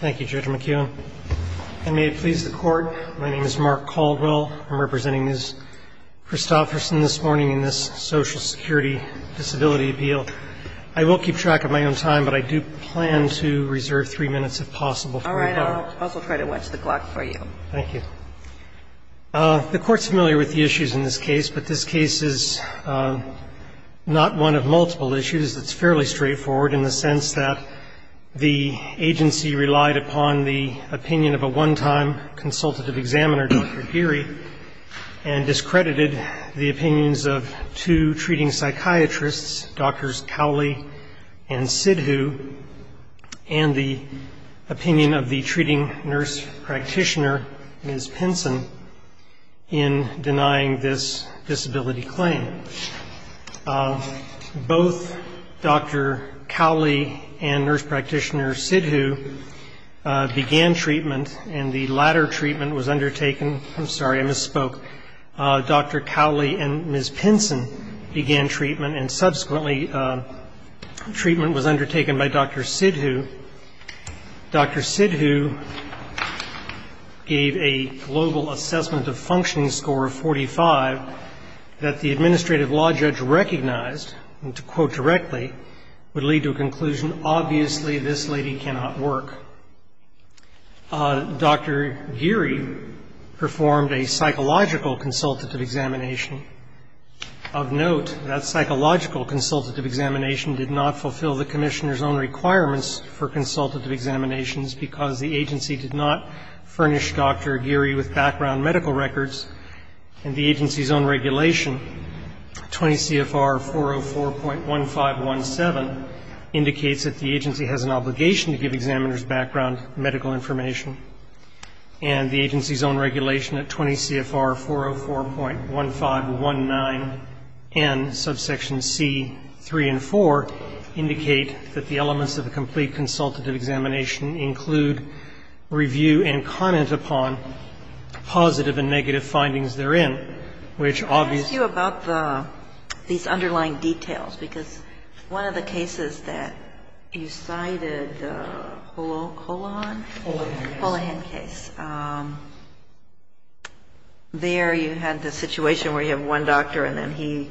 Thank you, Judge McKeown. And may it please the Court, my name is Mark Caldwell, I'm representing Ms. Christopherson this morning in this Social Security Disability Appeal. I will keep track of my own time, but I do plan to reserve three minutes if possible for you. All right, I'll also try to watch the clock for you. Thank you. The Court's familiar with the issues in this case, but this case is not one of multiple issues. It's fairly straightforward in the sense that the agency relied upon the opinion of a one-time consultative examiner, Dr. Geary, and discredited the opinions of two treating psychiatrists, Drs. Cowley and Sidhu, and the opinion of the treating nurse practitioner, Ms. Pinson, in denying this disability claim. Both Dr. Cowley and nurse practitioner Sidhu began treatment, and the latter treatment was undertaken. I'm sorry, I misspoke. Dr. Cowley and Ms. Pinson began treatment, and subsequently treatment was undertaken by Dr. Sidhu. Dr. Sidhu gave a global assessment of functioning score of 45 that the administrative law judge recognized, and to quote directly, would lead to a conclusion, obviously this lady cannot work. Dr. Geary performed a psychological consultative examination. Of note, that psychological consultative examination did not fulfill the commissioner's own requirements for consultative examinations, because the agency did not furnish Dr. Geary with background medical records. And the agency's own regulation, 20 CFR 404.1517, indicates that the agency has an obligation to give examiners background medical information. And the agency's own regulation at 20 CFR 404.1519N, subsections C, 3, and 4, indicate that the elements of a complete consultative examination include review and comment upon positive and negative findings therein, which obviously ---- Ms. Pinson. Well, in the Mullahan case, there you had the situation where you have one doctor, and then he,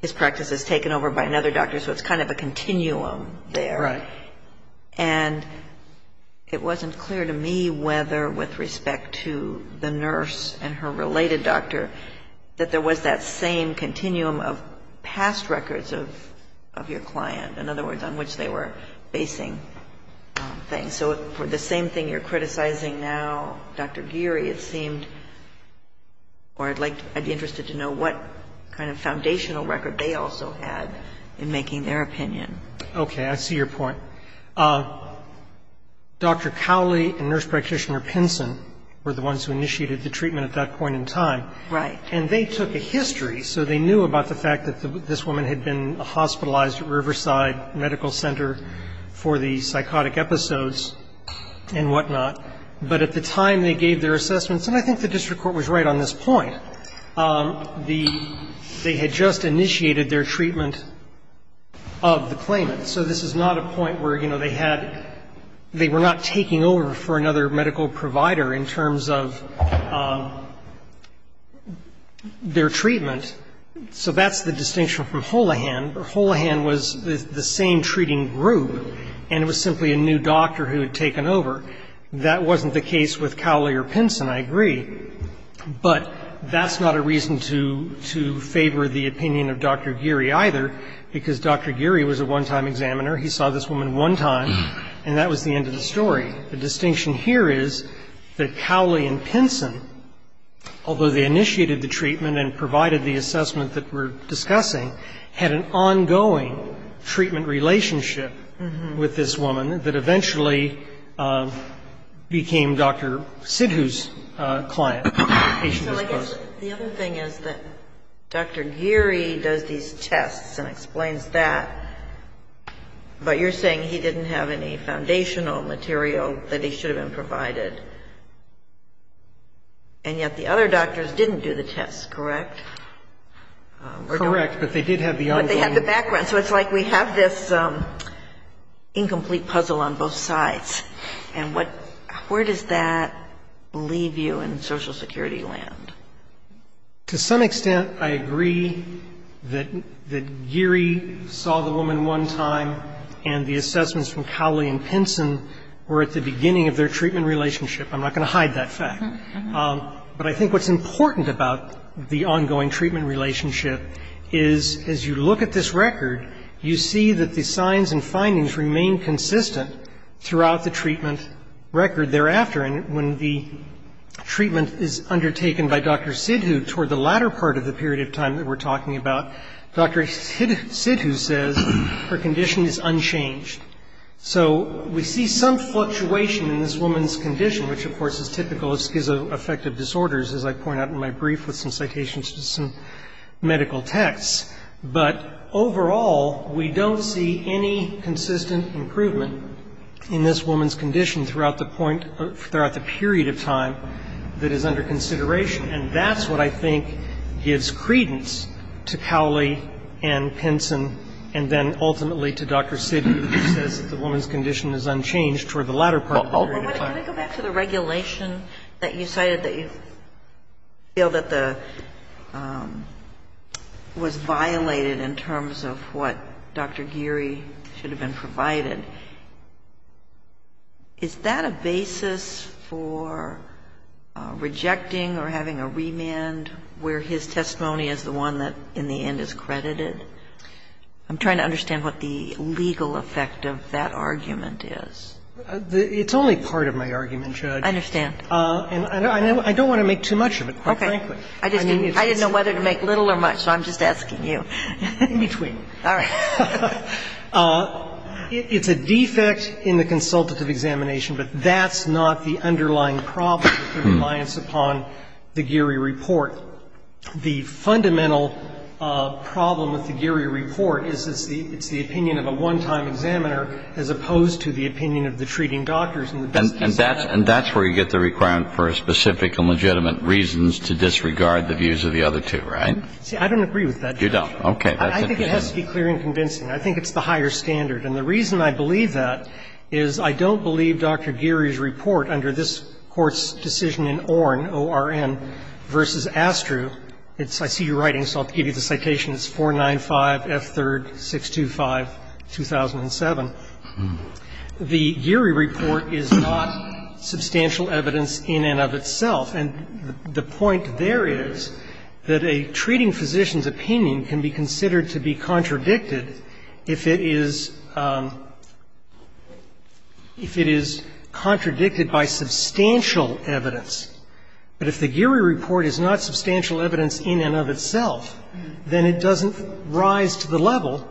his practice is taken over by another doctor, so it's kind of a continuum there. Right. And it wasn't clear to me whether, with respect to the nurse and her related doctor, that there was that same continuum of past records of your client, in other words, on which they were basing things. So for the same thing you're criticizing now, Dr. Geary, it seemed, or I'd like to ---- I'd be interested to know what kind of foundational record they also had in making their opinion. Okay. I see your point. Dr. Cowley and nurse practitioner Pinson were the ones who initiated the treatment at that point in time. Right. And they took a history, so they knew about the fact that this woman had been hospitalized at Riverside Medical Center for the psychotic episodes and whatnot. But at the time they gave their assessments, and I think the district court was right on this point, the ---- they had just initiated their treatment of the claimant. So this is not a point where, you know, they had ---- they were not taking over for another medical provider in terms of their treatment. So that's the distinction from Holohan. Holohan was the same treating group, and it was simply a new doctor who had taken over. That wasn't the case with Cowley or Pinson, I agree. But that's not a reason to favor the opinion of Dr. Geary either, because Dr. Geary was a one-time examiner. He saw this woman one time, and that was the end of the story. The distinction here is that Cowley and Pinson, although they initiated the treatment and provided the assessment that we're discussing, had an ongoing treatment relationship with this woman that eventually became Dr. Sidhu's client, patient as opposed to ---- So I guess the other thing is that Dr. Geary does these tests and explains that, but you're saying he didn't have any foundational material that he should have been provided. And yet the other doctors didn't do the tests, correct? Correct. But they did have the ongoing ---- And where does that leave you in Social Security land? To some extent, I agree that Geary saw the woman one time, and the assessments from Cowley and Pinson were at the beginning of their treatment relationship. I'm not going to hide that fact. But I think what's important about the ongoing treatment relationship is as you look at this record, you see that the signs and findings remain consistent throughout the treatment record thereafter. And when the treatment is undertaken by Dr. Sidhu toward the latter part of the period of time that we're talking about, Dr. Sidhu says her condition is unchanged. So we see some fluctuation in this woman's condition, which, of course, is typical of schizoaffective disorders, as I point out in my brief with some citations to some medical texts. But overall, we don't see any consistent improvement in this woman's condition throughout the point or throughout the period of time that is under consideration. And that's what I think gives credence to Cowley and Pinson and then ultimately to Dr. Sidhu, who says that the woman's condition is unchanged toward the latter part of the period of time. Sotomayor, can I go back to the regulation that you cited that you feel that the was violated in terms of what Dr. Geary should have been provided? Is that a basis for rejecting or having a remand where his testimony is the one that in the end is credited? I'm trying to understand what the legal effect of that argument is. It's only part of my argument, Judge. I understand. And I don't want to make too much of it, quite frankly. Okay. I didn't know whether to make little or much, so I'm just asking you. In between. All right. It's a defect in the consultative examination, but that's not the underlying problem with compliance upon the Geary report. The fundamental problem with the Geary report is it's the opinion of a one-time examiner as opposed to the opinion of the treating doctors. And that's where you get the requirement for specific and legitimate reasons to disregard the views of the other two, right? See, I don't agree with that, Judge. You don't. Okay. I think it has to be clear and convincing. I think it's the higher standard. And the reason I believe that is I don't believe Dr. Geary's report under this Court's decision in Orn, O-R-N, versus Astru. I see your writing, so I'll give you the citation. It's 495F3-625-2007. The Geary report is not substantial evidence in and of itself. And the point there is that a treating physician's opinion can be considered to be contradicted if it is ‑‑ if it is contradicted by substantial evidence. But if the Geary report is not substantial evidence in and of itself, then it doesn't rise to the level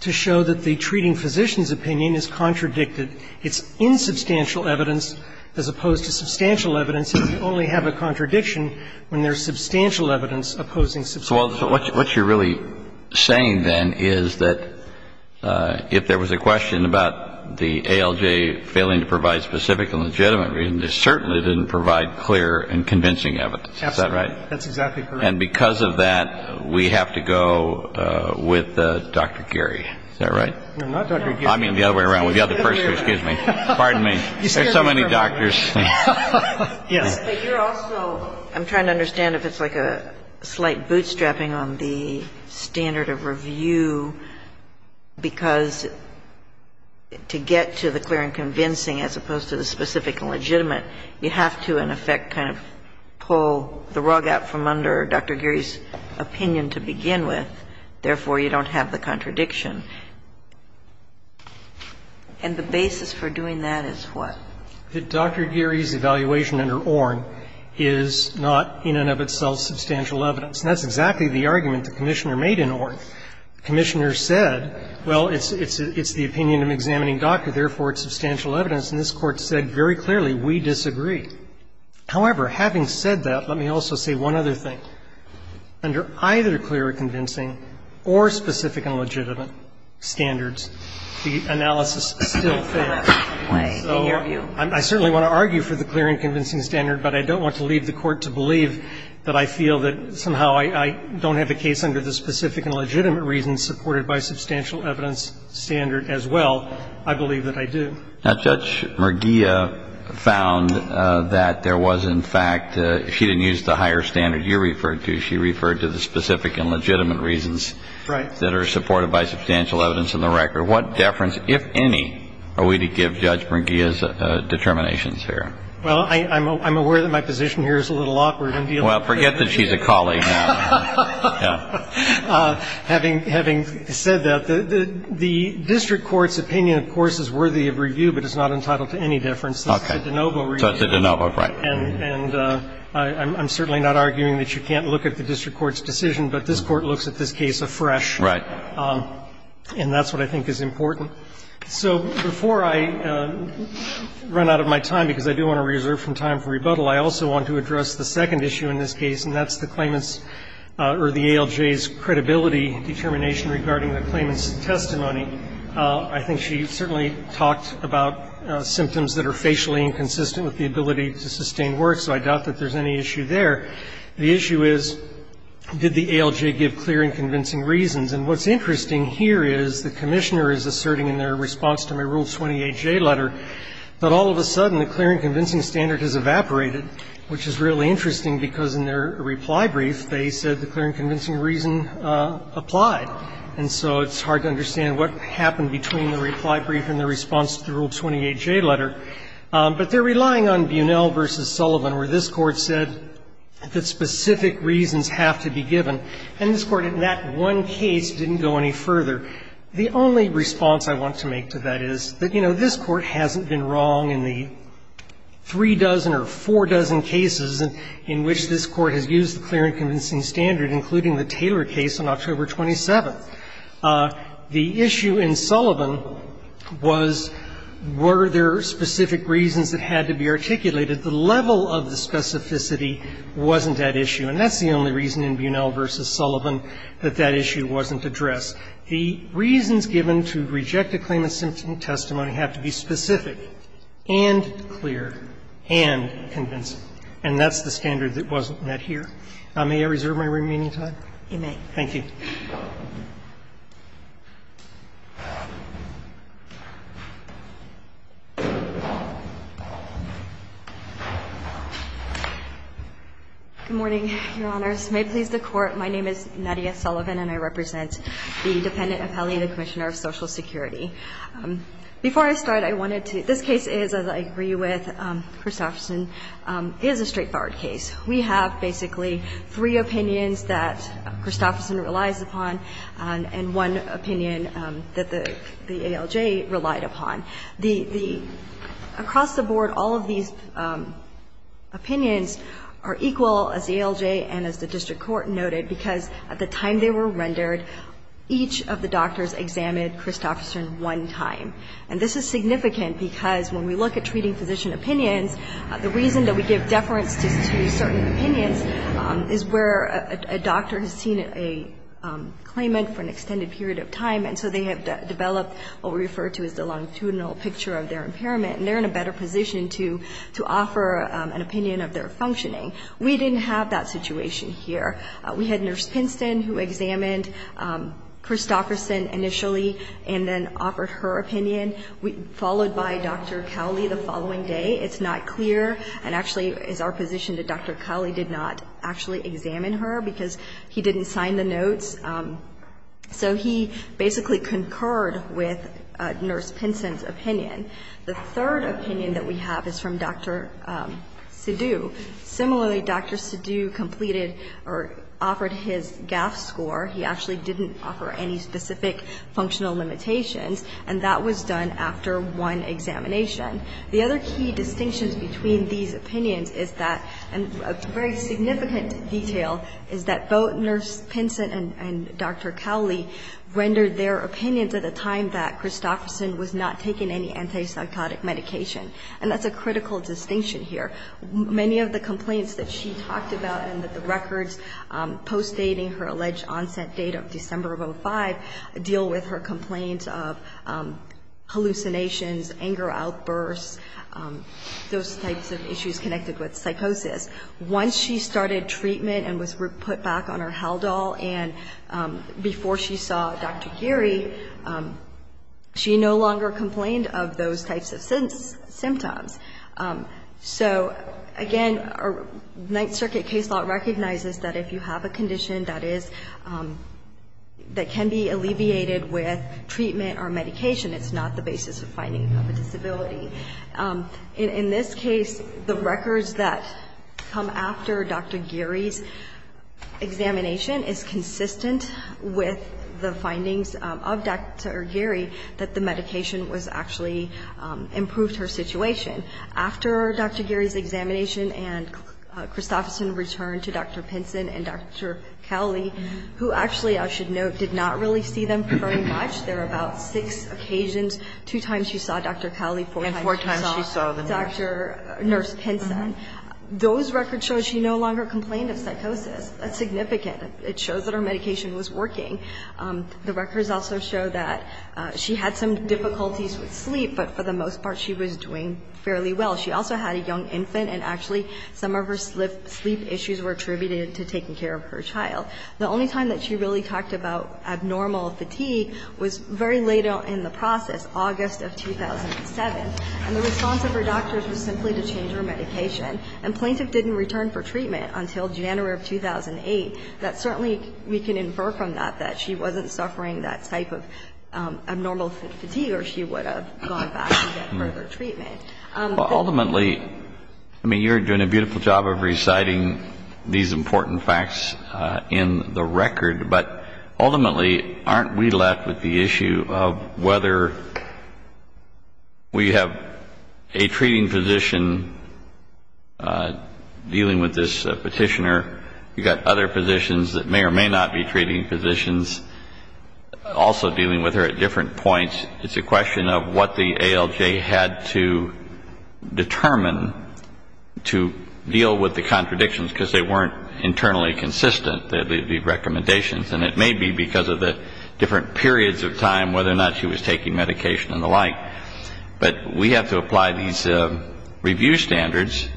to show that the treating physician's opinion is contradicted. It's insubstantial evidence as opposed to substantial evidence if you only have a contradiction when there's substantial evidence opposing substantial evidence. So what you're really saying, then, is that if there was a question about the ALJ failing to provide specific and legitimate reasons, it certainly didn't provide clear and convincing evidence. Is that right? Absolutely. That's exactly correct. And because of that, we have to go with Dr. Geary. Is that right? No, not Dr. Geary. I mean the other way around. The other person. Excuse me. Pardon me. There's so many doctors. Yes. But you're also ‑‑ I'm trying to understand if it's like a slight bootstrapping on the standard of review, because to get to the clear and convincing as opposed to the specific and legitimate, you have to, in effect, kind of pull the rug out from under Dr. Geary's opinion to begin with. Therefore, you don't have the contradiction. And the basis for doing that is what? Dr. Geary's evaluation under Orn is not in and of itself substantial evidence. And that's exactly the argument the Commissioner made in Orn. The Commissioner said, well, it's the opinion of an examining doctor, therefore it's substantial evidence. And this Court said very clearly, we disagree. However, having said that, let me also say one other thing. Under either clear and convincing or specific and legitimate standards, the analysis still fails. So I certainly want to argue for the clear and convincing standard, but I don't want to leave the Court to believe that I feel that somehow I don't have a case under the specific and legitimate reasons supported by substantial evidence standard as well. I believe that I do. Now, Judge Murgia found that there was, in fact, she didn't use the higher standard you referred to. She referred to the specific and legitimate reasons that are supported by substantial evidence in the record. What deference, if any, are we to give Judge Murgia's determinations here? Well, I'm aware that my position here is a little awkward. Well, forget that she's a colleague now. Having said that, the district court's opinion, of course, is worthy of review, but it's not entitled to any deference. This is a de novo review. So it's a de novo, right. And I'm certainly not arguing that you can't look at the district court's decision, but this Court looks at this case afresh. Right. And that's what I think is important. So before I run out of my time, because I do want to reserve some time for rebuttal, I also want to address the second issue in this case, and that's the claimant's or the ALJ's credibility determination regarding the claimant's testimony. I think she certainly talked about symptoms that are facially inconsistent with the ability to sustain work, so I doubt that there's any issue there. The issue is, did the ALJ give clear and convincing reasons? And what's interesting here is the Commissioner is asserting in their response to my Rule 28J letter that all of a sudden the clear and convincing standard has evaporated, which is really interesting, because in their reply brief they said the clear and convincing reason applied. And so it's hard to understand what happened between the reply brief and the response to the Rule 28J letter. But they're relying on Bunnell v. Sullivan, where this Court said that specific reasons have to be given. And this Court, in that one case, didn't go any further. The only response I want to make to that is that, you know, this Court hasn't been wrong in the three dozen or four dozen cases in which this Court has used the clear and convincing standard, including the Taylor case on October 27th. The issue in Sullivan was, were there specific reasons that had to be articulated? The level of the specificity wasn't at issue. And that's the only reason in Bunnell v. Sullivan that that issue wasn't addressed. The reasons given to reject a claimant's symptom testimony have to be specific and clear and convincing. And that's the standard that wasn't met here. May I reserve my remaining time? You may. Good morning, Your Honors. May it please the Court, my name is Nadia Sullivan, and I represent the dependent appellee, the Commissioner of Social Security. Before I start, I wanted to – this case is, as I agree with Christofferson, is a straightforward case. We have basically three opinions that Christofferson relies upon and one opinion that the ALJ relied upon. The – across the board, all of these opinions are equal, as the ALJ and as the district court noted, because at the time they were rendered, each of the doctors examined Christofferson one time. And this is significant because when we look at treating physician opinions, the reason that we give deference to certain opinions is where a doctor has seen a claimant for an extended period of time, and so they have developed what we refer to as the longitudinal picture of their impairment. And they're in a better position to offer an opinion of their functioning. We didn't have that situation here. We had Nurse Pinston who examined Christofferson initially and then offered her opinion, followed by Dr. Cowley the following day. It's not clear and actually is our position that Dr. Cowley did not actually examine her because he didn't sign the notes. So he basically concurred with Nurse Pinston's opinion. The third opinion that we have is from Dr. Sidhu. Similarly, Dr. Sidhu completed or offered his GAF score. He actually didn't offer any specific functional limitations. And that was done after one examination. The other key distinctions between these opinions is that, and a very significant detail, is that both Nurse Pinston and Dr. Cowley rendered their opinions at a time that Christofferson was not taking any antipsychotic medication. And that's a critical distinction here. Many of the complaints that she talked about and that the records postdating her alleged onset date of December of 2005 deal with her complaints of hallucinations, anger outbursts, those types of issues connected with psychosis. Once she started treatment and was put back on her Haldol and before she saw Dr. Geary, she no longer complained of those types of symptoms. So, again, Ninth Circuit case law recognizes that if you have a condition that is that can be alleviated with treatment or medication, it's not the basis of finding a disability. In this case, the records that come after Dr. Geary's examination is consistent with the findings of Dr. Geary that the medication was actually improved her situation. After Dr. Geary's examination and Christofferson returned to Dr. Pinston and Dr. Cowley, who actually, I should note, did not really see them very much. There were about six occasions. Two times she saw Dr. Cowley, four times she saw Dr. Nurse Pinston. Those records show she no longer complained of psychosis. That's significant. It shows that her medication was working. The records also show that she had some difficulties with sleep, but for the most part she was doing fairly well. She also had a young infant, and actually some of her sleep issues were attributed to taking care of her child. The only time that she really talked about abnormal fatigue was very late in the process, August of 2007. And the response of her doctors was simply to change her medication. And plaintiff didn't return for treatment until January of 2008. That certainly, we can infer from that that she wasn't suffering that type of abnormal fatigue or she would have gone back to get further treatment. Ultimately, I mean, you're doing a beautiful job of reciting these important facts in the record, but ultimately aren't we left with the issue of whether we have a treating physician dealing with this petitioner. You've got other physicians that may or may not be treating physicians also dealing with this petitioner at different points. It's a question of what the ALJ had to determine to deal with the contradictions because they weren't internally consistent, the recommendations. And it may be because of the different periods of time, whether or not she was taking medication and the like. But we have to apply these review standards,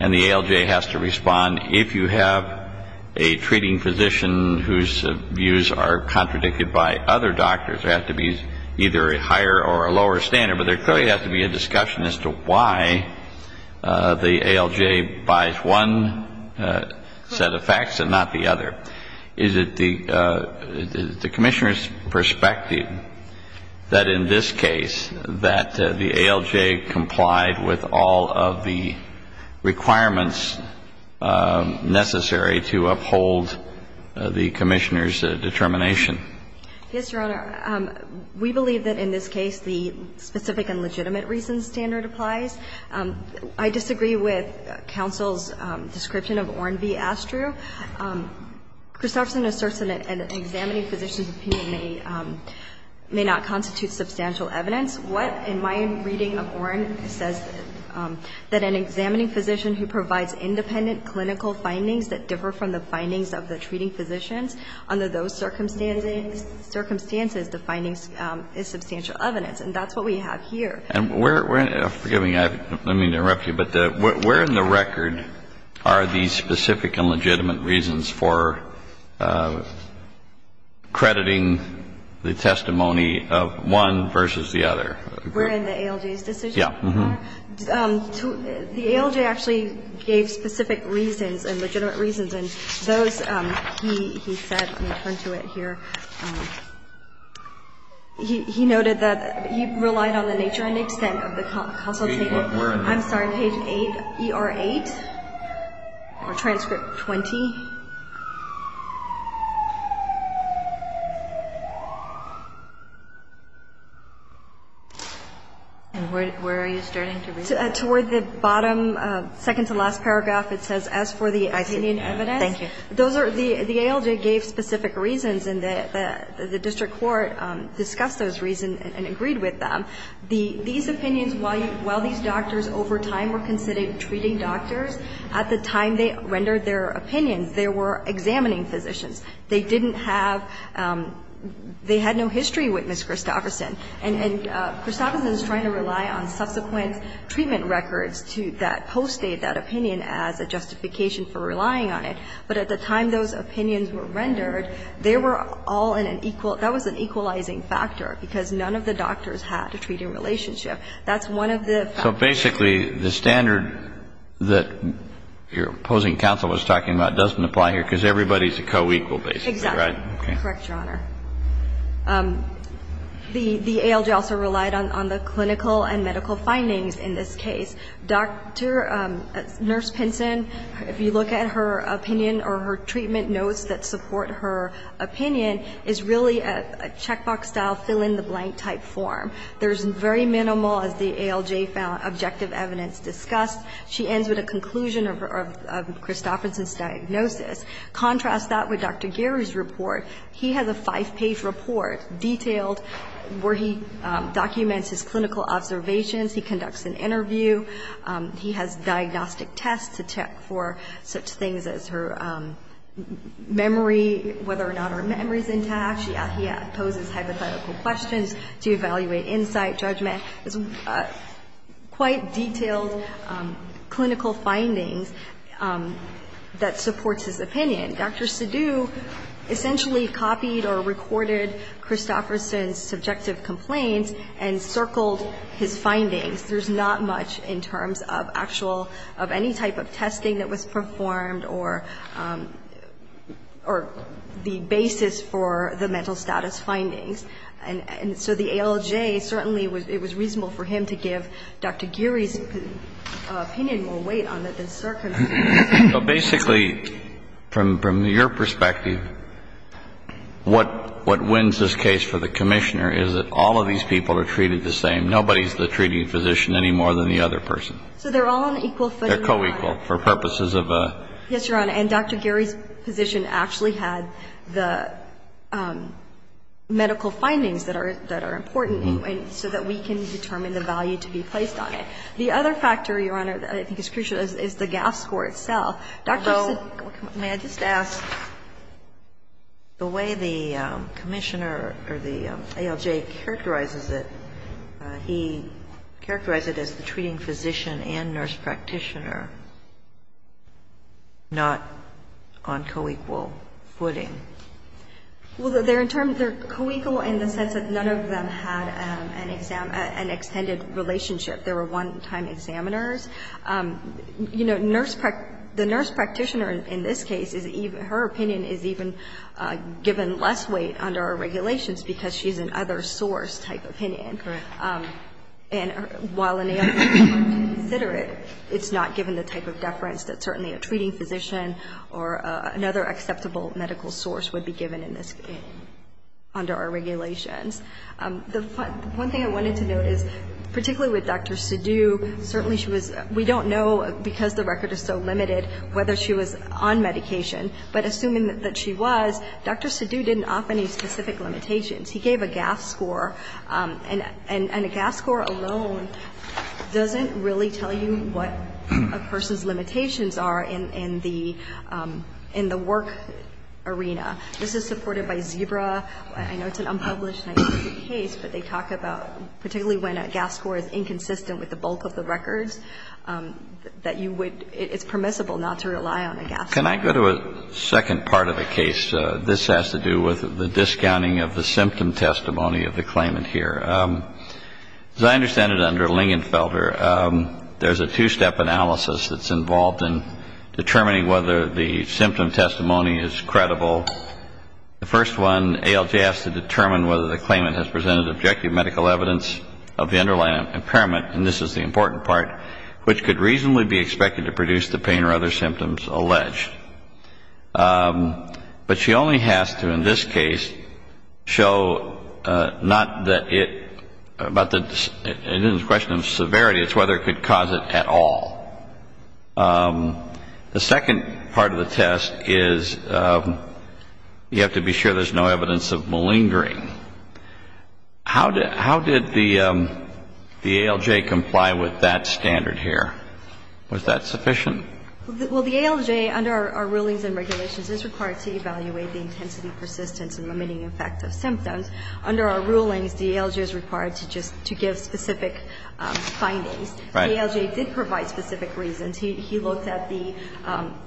and the ALJ has to respond if you have a higher or a lower standard. But there clearly has to be a discussion as to why the ALJ buys one set of facts and not the other. Is it the commissioner's perspective that in this case that the ALJ complied with all of the requirements necessary to uphold the commissioner's determination? Yes, Your Honor. We believe that in this case the specific and legitimate reason standard applies. I disagree with counsel's description of Orn v. Astru. Kristofferson asserts that an examining physician's opinion may not constitute substantial evidence. What, in my reading of Orn, says that an examining physician who provides independent clinical findings that differ from the findings of the treating physicians under those circumstances, the findings is substantial evidence. And that's what we have here. And where we're in the record are these specific and legitimate reasons for crediting the testimony of one versus the other? We're in the ALJ's decision? Yes. The ALJ actually gave specific reasons and legitimate reasons. And those, he said, let me turn to it here. He noted that he relied on the nature and extent of the consultation. I'm sorry, page 8, ER 8, or transcript 20. Towards the bottom, second to last paragraph, it says, as for the opinion evidence. Thank you. The ALJ gave specific reasons, and the district court discussed those reasons and agreed with them. These opinions, while these doctors over time were considered treating doctors, at the time they rendered their opinions, they were examining physicians. They didn't have they had no history with Ms. Kristofferson. And Kristofferson is trying to rely on subsequent treatment records to that post-date that opinion as a justification for relying on it. But at the time those opinions were rendered, they were all in an equal that was an equalizing factor because none of the doctors had a treating relationship. That's one of the factors. So basically the standard that your opposing counsel was talking about doesn't apply here because everybody is a co-equal basically, right? Correct, Your Honor. The ALJ also relied on the clinical and medical findings in this case. Dr. Nurse Pinson, if you look at her opinion or her treatment notes that support her opinion, is really a checkbox-style fill-in-the-blank type form. There's very minimal, as the ALJ found, objective evidence discussed. She ends with a conclusion of Kristofferson's diagnosis. Contrast that with Dr. Geary's report. He has a five-page report, detailed, where he documents his clinical observations. He conducts an interview. He has diagnostic tests to check for such things as her memory, whether or not her memory is intact. He poses hypothetical questions to evaluate insight, judgment. There's quite detailed clinical findings that supports his opinion. Dr. Sidhu essentially copied or recorded Kristofferson's subjective complaints and circled his findings. There's not much in terms of actual, of any type of testing that was performed or the basis for the mental status findings. And so the ALJ certainly, it was reasonable for him to give Dr. Geary's opinion more weight on it than Sir can. So basically, from your perspective, what wins this case for the Commissioner is that all of these people are treated the same. Nobody's the treating physician any more than the other person. So they're all on equal footing. They're co-equal for purposes of a. Yes, Your Honor. And Dr. Geary's position actually had the medical findings that are important so that we can determine the value to be placed on it. The other factor, Your Honor, that I think is crucial is the GAF score itself. Although, may I just ask, the way the Commissioner or the ALJ characterizes it, he characterized it as the treating physician and nurse practitioner not on co-equal footing. Well, they're in terms, they're co-equal in the sense that none of them had an extended relationship. They were one-time examiners. You know, the nurse practitioner in this case, her opinion is even given less weight under our regulations because she's an other source type opinion. Correct. And while an ALJ might consider it, it's not given the type of deference that certainly a treating physician or another acceptable medical source would be given under our regulations. One thing I wanted to note is, particularly with Dr. Sidhu, certainly she was, we don't know because the record is so limited whether she was on medication, but assuming that she was, Dr. Sidhu didn't offer any specific limitations. He gave a GAF score, and a GAF score alone doesn't really tell you what a person's limitations are in the work arena. This is supported by Zebra. I know it's an unpublished case, but they talk about, particularly when a GAF score is inconsistent with the bulk of the records, that you would, it's permissible not to rely on a GAF score. Can I go to a second part of the case? This has to do with the discounting of the symptom testimony of the claimant here. As I understand it under Lingenfelder, there's a two-step analysis that's involved in determining whether the symptom testimony is credible. The first one, ALJ asks to determine whether the claimant has presented objective medical evidence of the underlying impairment, and this is the important part, which could reasonably be expected to produce the pain or other symptoms alleged. But she only has to, in this case, show not that it, but it isn't a question of severity, it's whether it could cause it at all. The second part of the test is you have to be sure there's no evidence of malingering. How did the ALJ comply with that standard here? Was that sufficient? Well, the ALJ, under our rulings and regulations, is required to evaluate the intensity, persistence, and limiting effect of symptoms. Under our rulings, the ALJ is required to just, to give specific findings. Right. The ALJ did provide specific reasons. He looked at the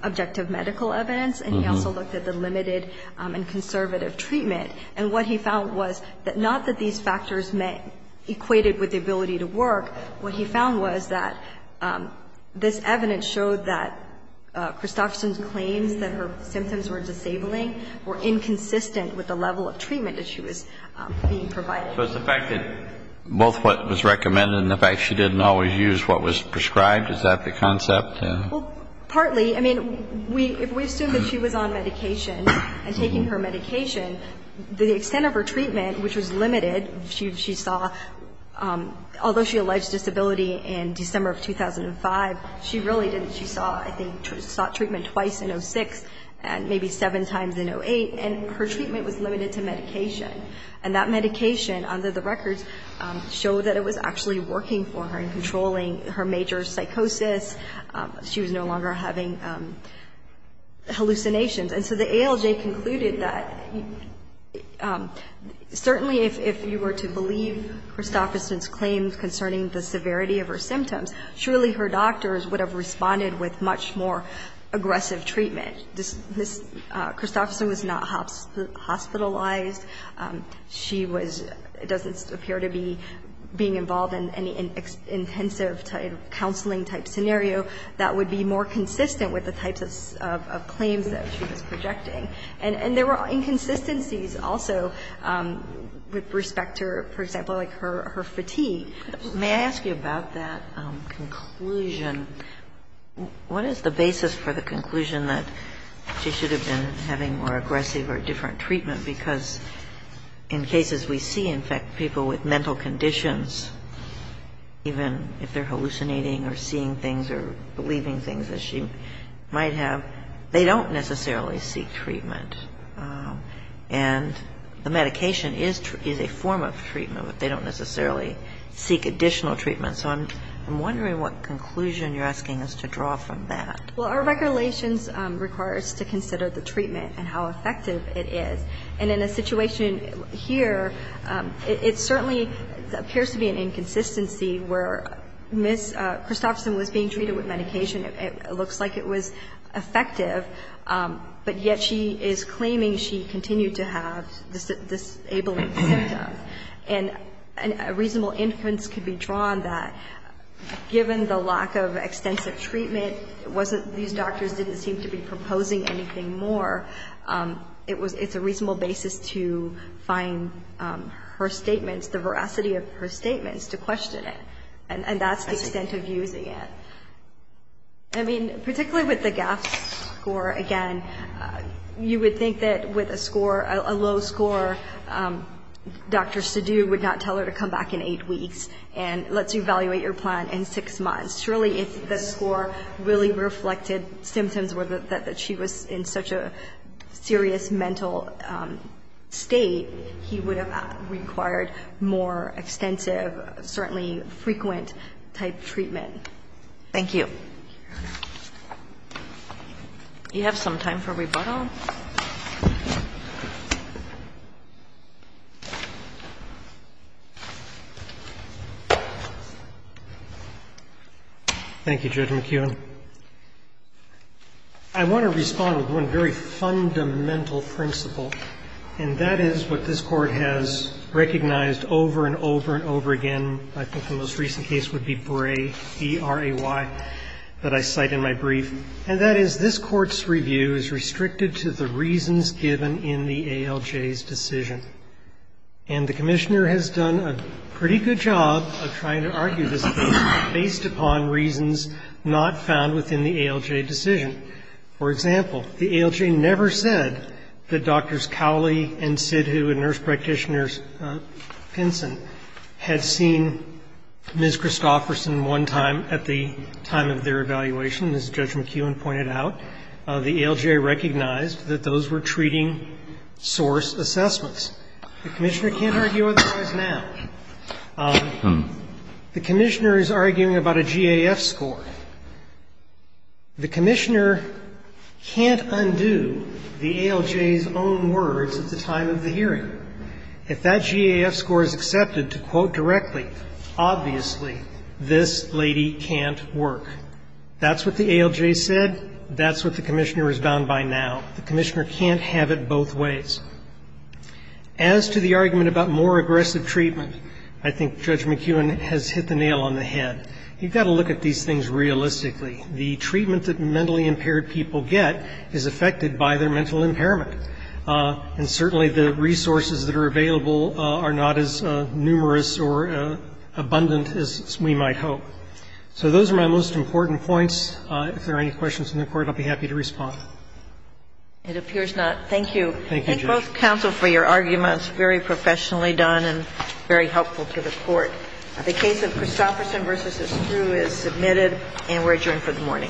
objective medical evidence, and he also looked at the limited and conservative treatment. And what he found was that not that these factors equated with the ability to work. What he found was that this evidence showed that Christofferson's claims that her symptoms were disabling were inconsistent with the level of treatment that she was being provided. So it's the fact that both what was recommended and the fact she didn't always use what was prescribed, is that the concept? Well, partly. I mean, if we assume that she was on medication and taking her medication, the extent of her treatment, which was limited, she saw, although she alleged disability in December of 2005, she really didn't. She saw, I think, treatment twice in 06 and maybe seven times in 08, and her treatment was limited to medication. And that medication, under the records, showed that it was actually working for her and controlling her major psychosis. She was no longer having hallucinations. And so the ALJ concluded that certainly if you were to believe Christofferson's claims concerning the severity of her symptoms, surely her doctors would have responded with much more aggressive treatment. I mean, Christofferson was not hospitalized. She was – doesn't appear to be being involved in any intensive type of counseling type scenario that would be more consistent with the types of claims that she was projecting. And there were inconsistencies also with respect to, for example, like her fatigue. May I ask you about that conclusion? What is the basis for the conclusion that she should have been having more aggressive or different treatment? Because in cases we see, in fact, people with mental conditions, even if they're hallucinating or seeing things or believing things as she might have, they don't necessarily seek treatment. And the medication is a form of treatment, but they don't necessarily seek additional treatment. So I'm wondering what conclusion you're asking us to draw from that. Well, our regulations require us to consider the treatment and how effective it is. And in a situation here, it certainly appears to be an inconsistency where Ms. Christofferson was being treated with medication. It looks like it was effective. But yet she is claiming she continued to have disabling symptoms. And a reasonable inference could be drawn that given the lack of extensive treatment, these doctors didn't seem to be proposing anything more. It's a reasonable basis to find her statements, the veracity of her statements, to question it. And that's the extent of using it. I mean, particularly with the GAF score, again, you would think that with a score, a low score, Dr. Sidhu would not tell her to come back in eight weeks and let's you evaluate your plan in six months. Surely if the score really reflected symptoms that she was in such a serious mental state, he would have required more extensive, certainly frequent-type treatment. Thank you. Do you have some time for rebuttal? Thank you, Judge McKeown. I want to respond with one very fundamental principle, and that is what this Court has recognized over and over and over again. I think the most recent case would be Bray, E-R-A-Y, that I cite in my brief. And that is this Court's review is restricted to the reasons given in the ALJ's decision. And the Commissioner has done a pretty good job of trying to argue this based upon reasons not found within the ALJ decision. For example, the ALJ never said that Doctors Cowley and Sidhu and Nurse Practitioners Pinson had seen Ms. Christofferson one time at the time of their evaluation, as Judge McKeown pointed out. The ALJ recognized that those were treating source assessments. The Commissioner can't argue otherwise now. The Commissioner is arguing about a GAF score. The Commissioner can't undo the ALJ's own words at the time of the hearing. If that GAF score is accepted to quote directly, obviously this lady can't work. That's what the ALJ said. That's what the Commissioner is bound by now. The Commissioner can't have it both ways. As to the argument about more aggressive treatment, I think Judge McKeown has hit the nail on the head. You've got to look at these things realistically. The treatment that mentally impaired people get is affected by their mental impairment. And certainly the resources that are available are not as numerous or abundant as we might hope. So those are my most important points. If there are any questions from the Court, I'll be happy to respond. It appears not. Thank you. Thank you, Judge. I thank both counsel for your arguments, very professionally done and very helpful to the Court. The case of Christofferson v. Estru is submitted and we're adjourned for the morning. All rise.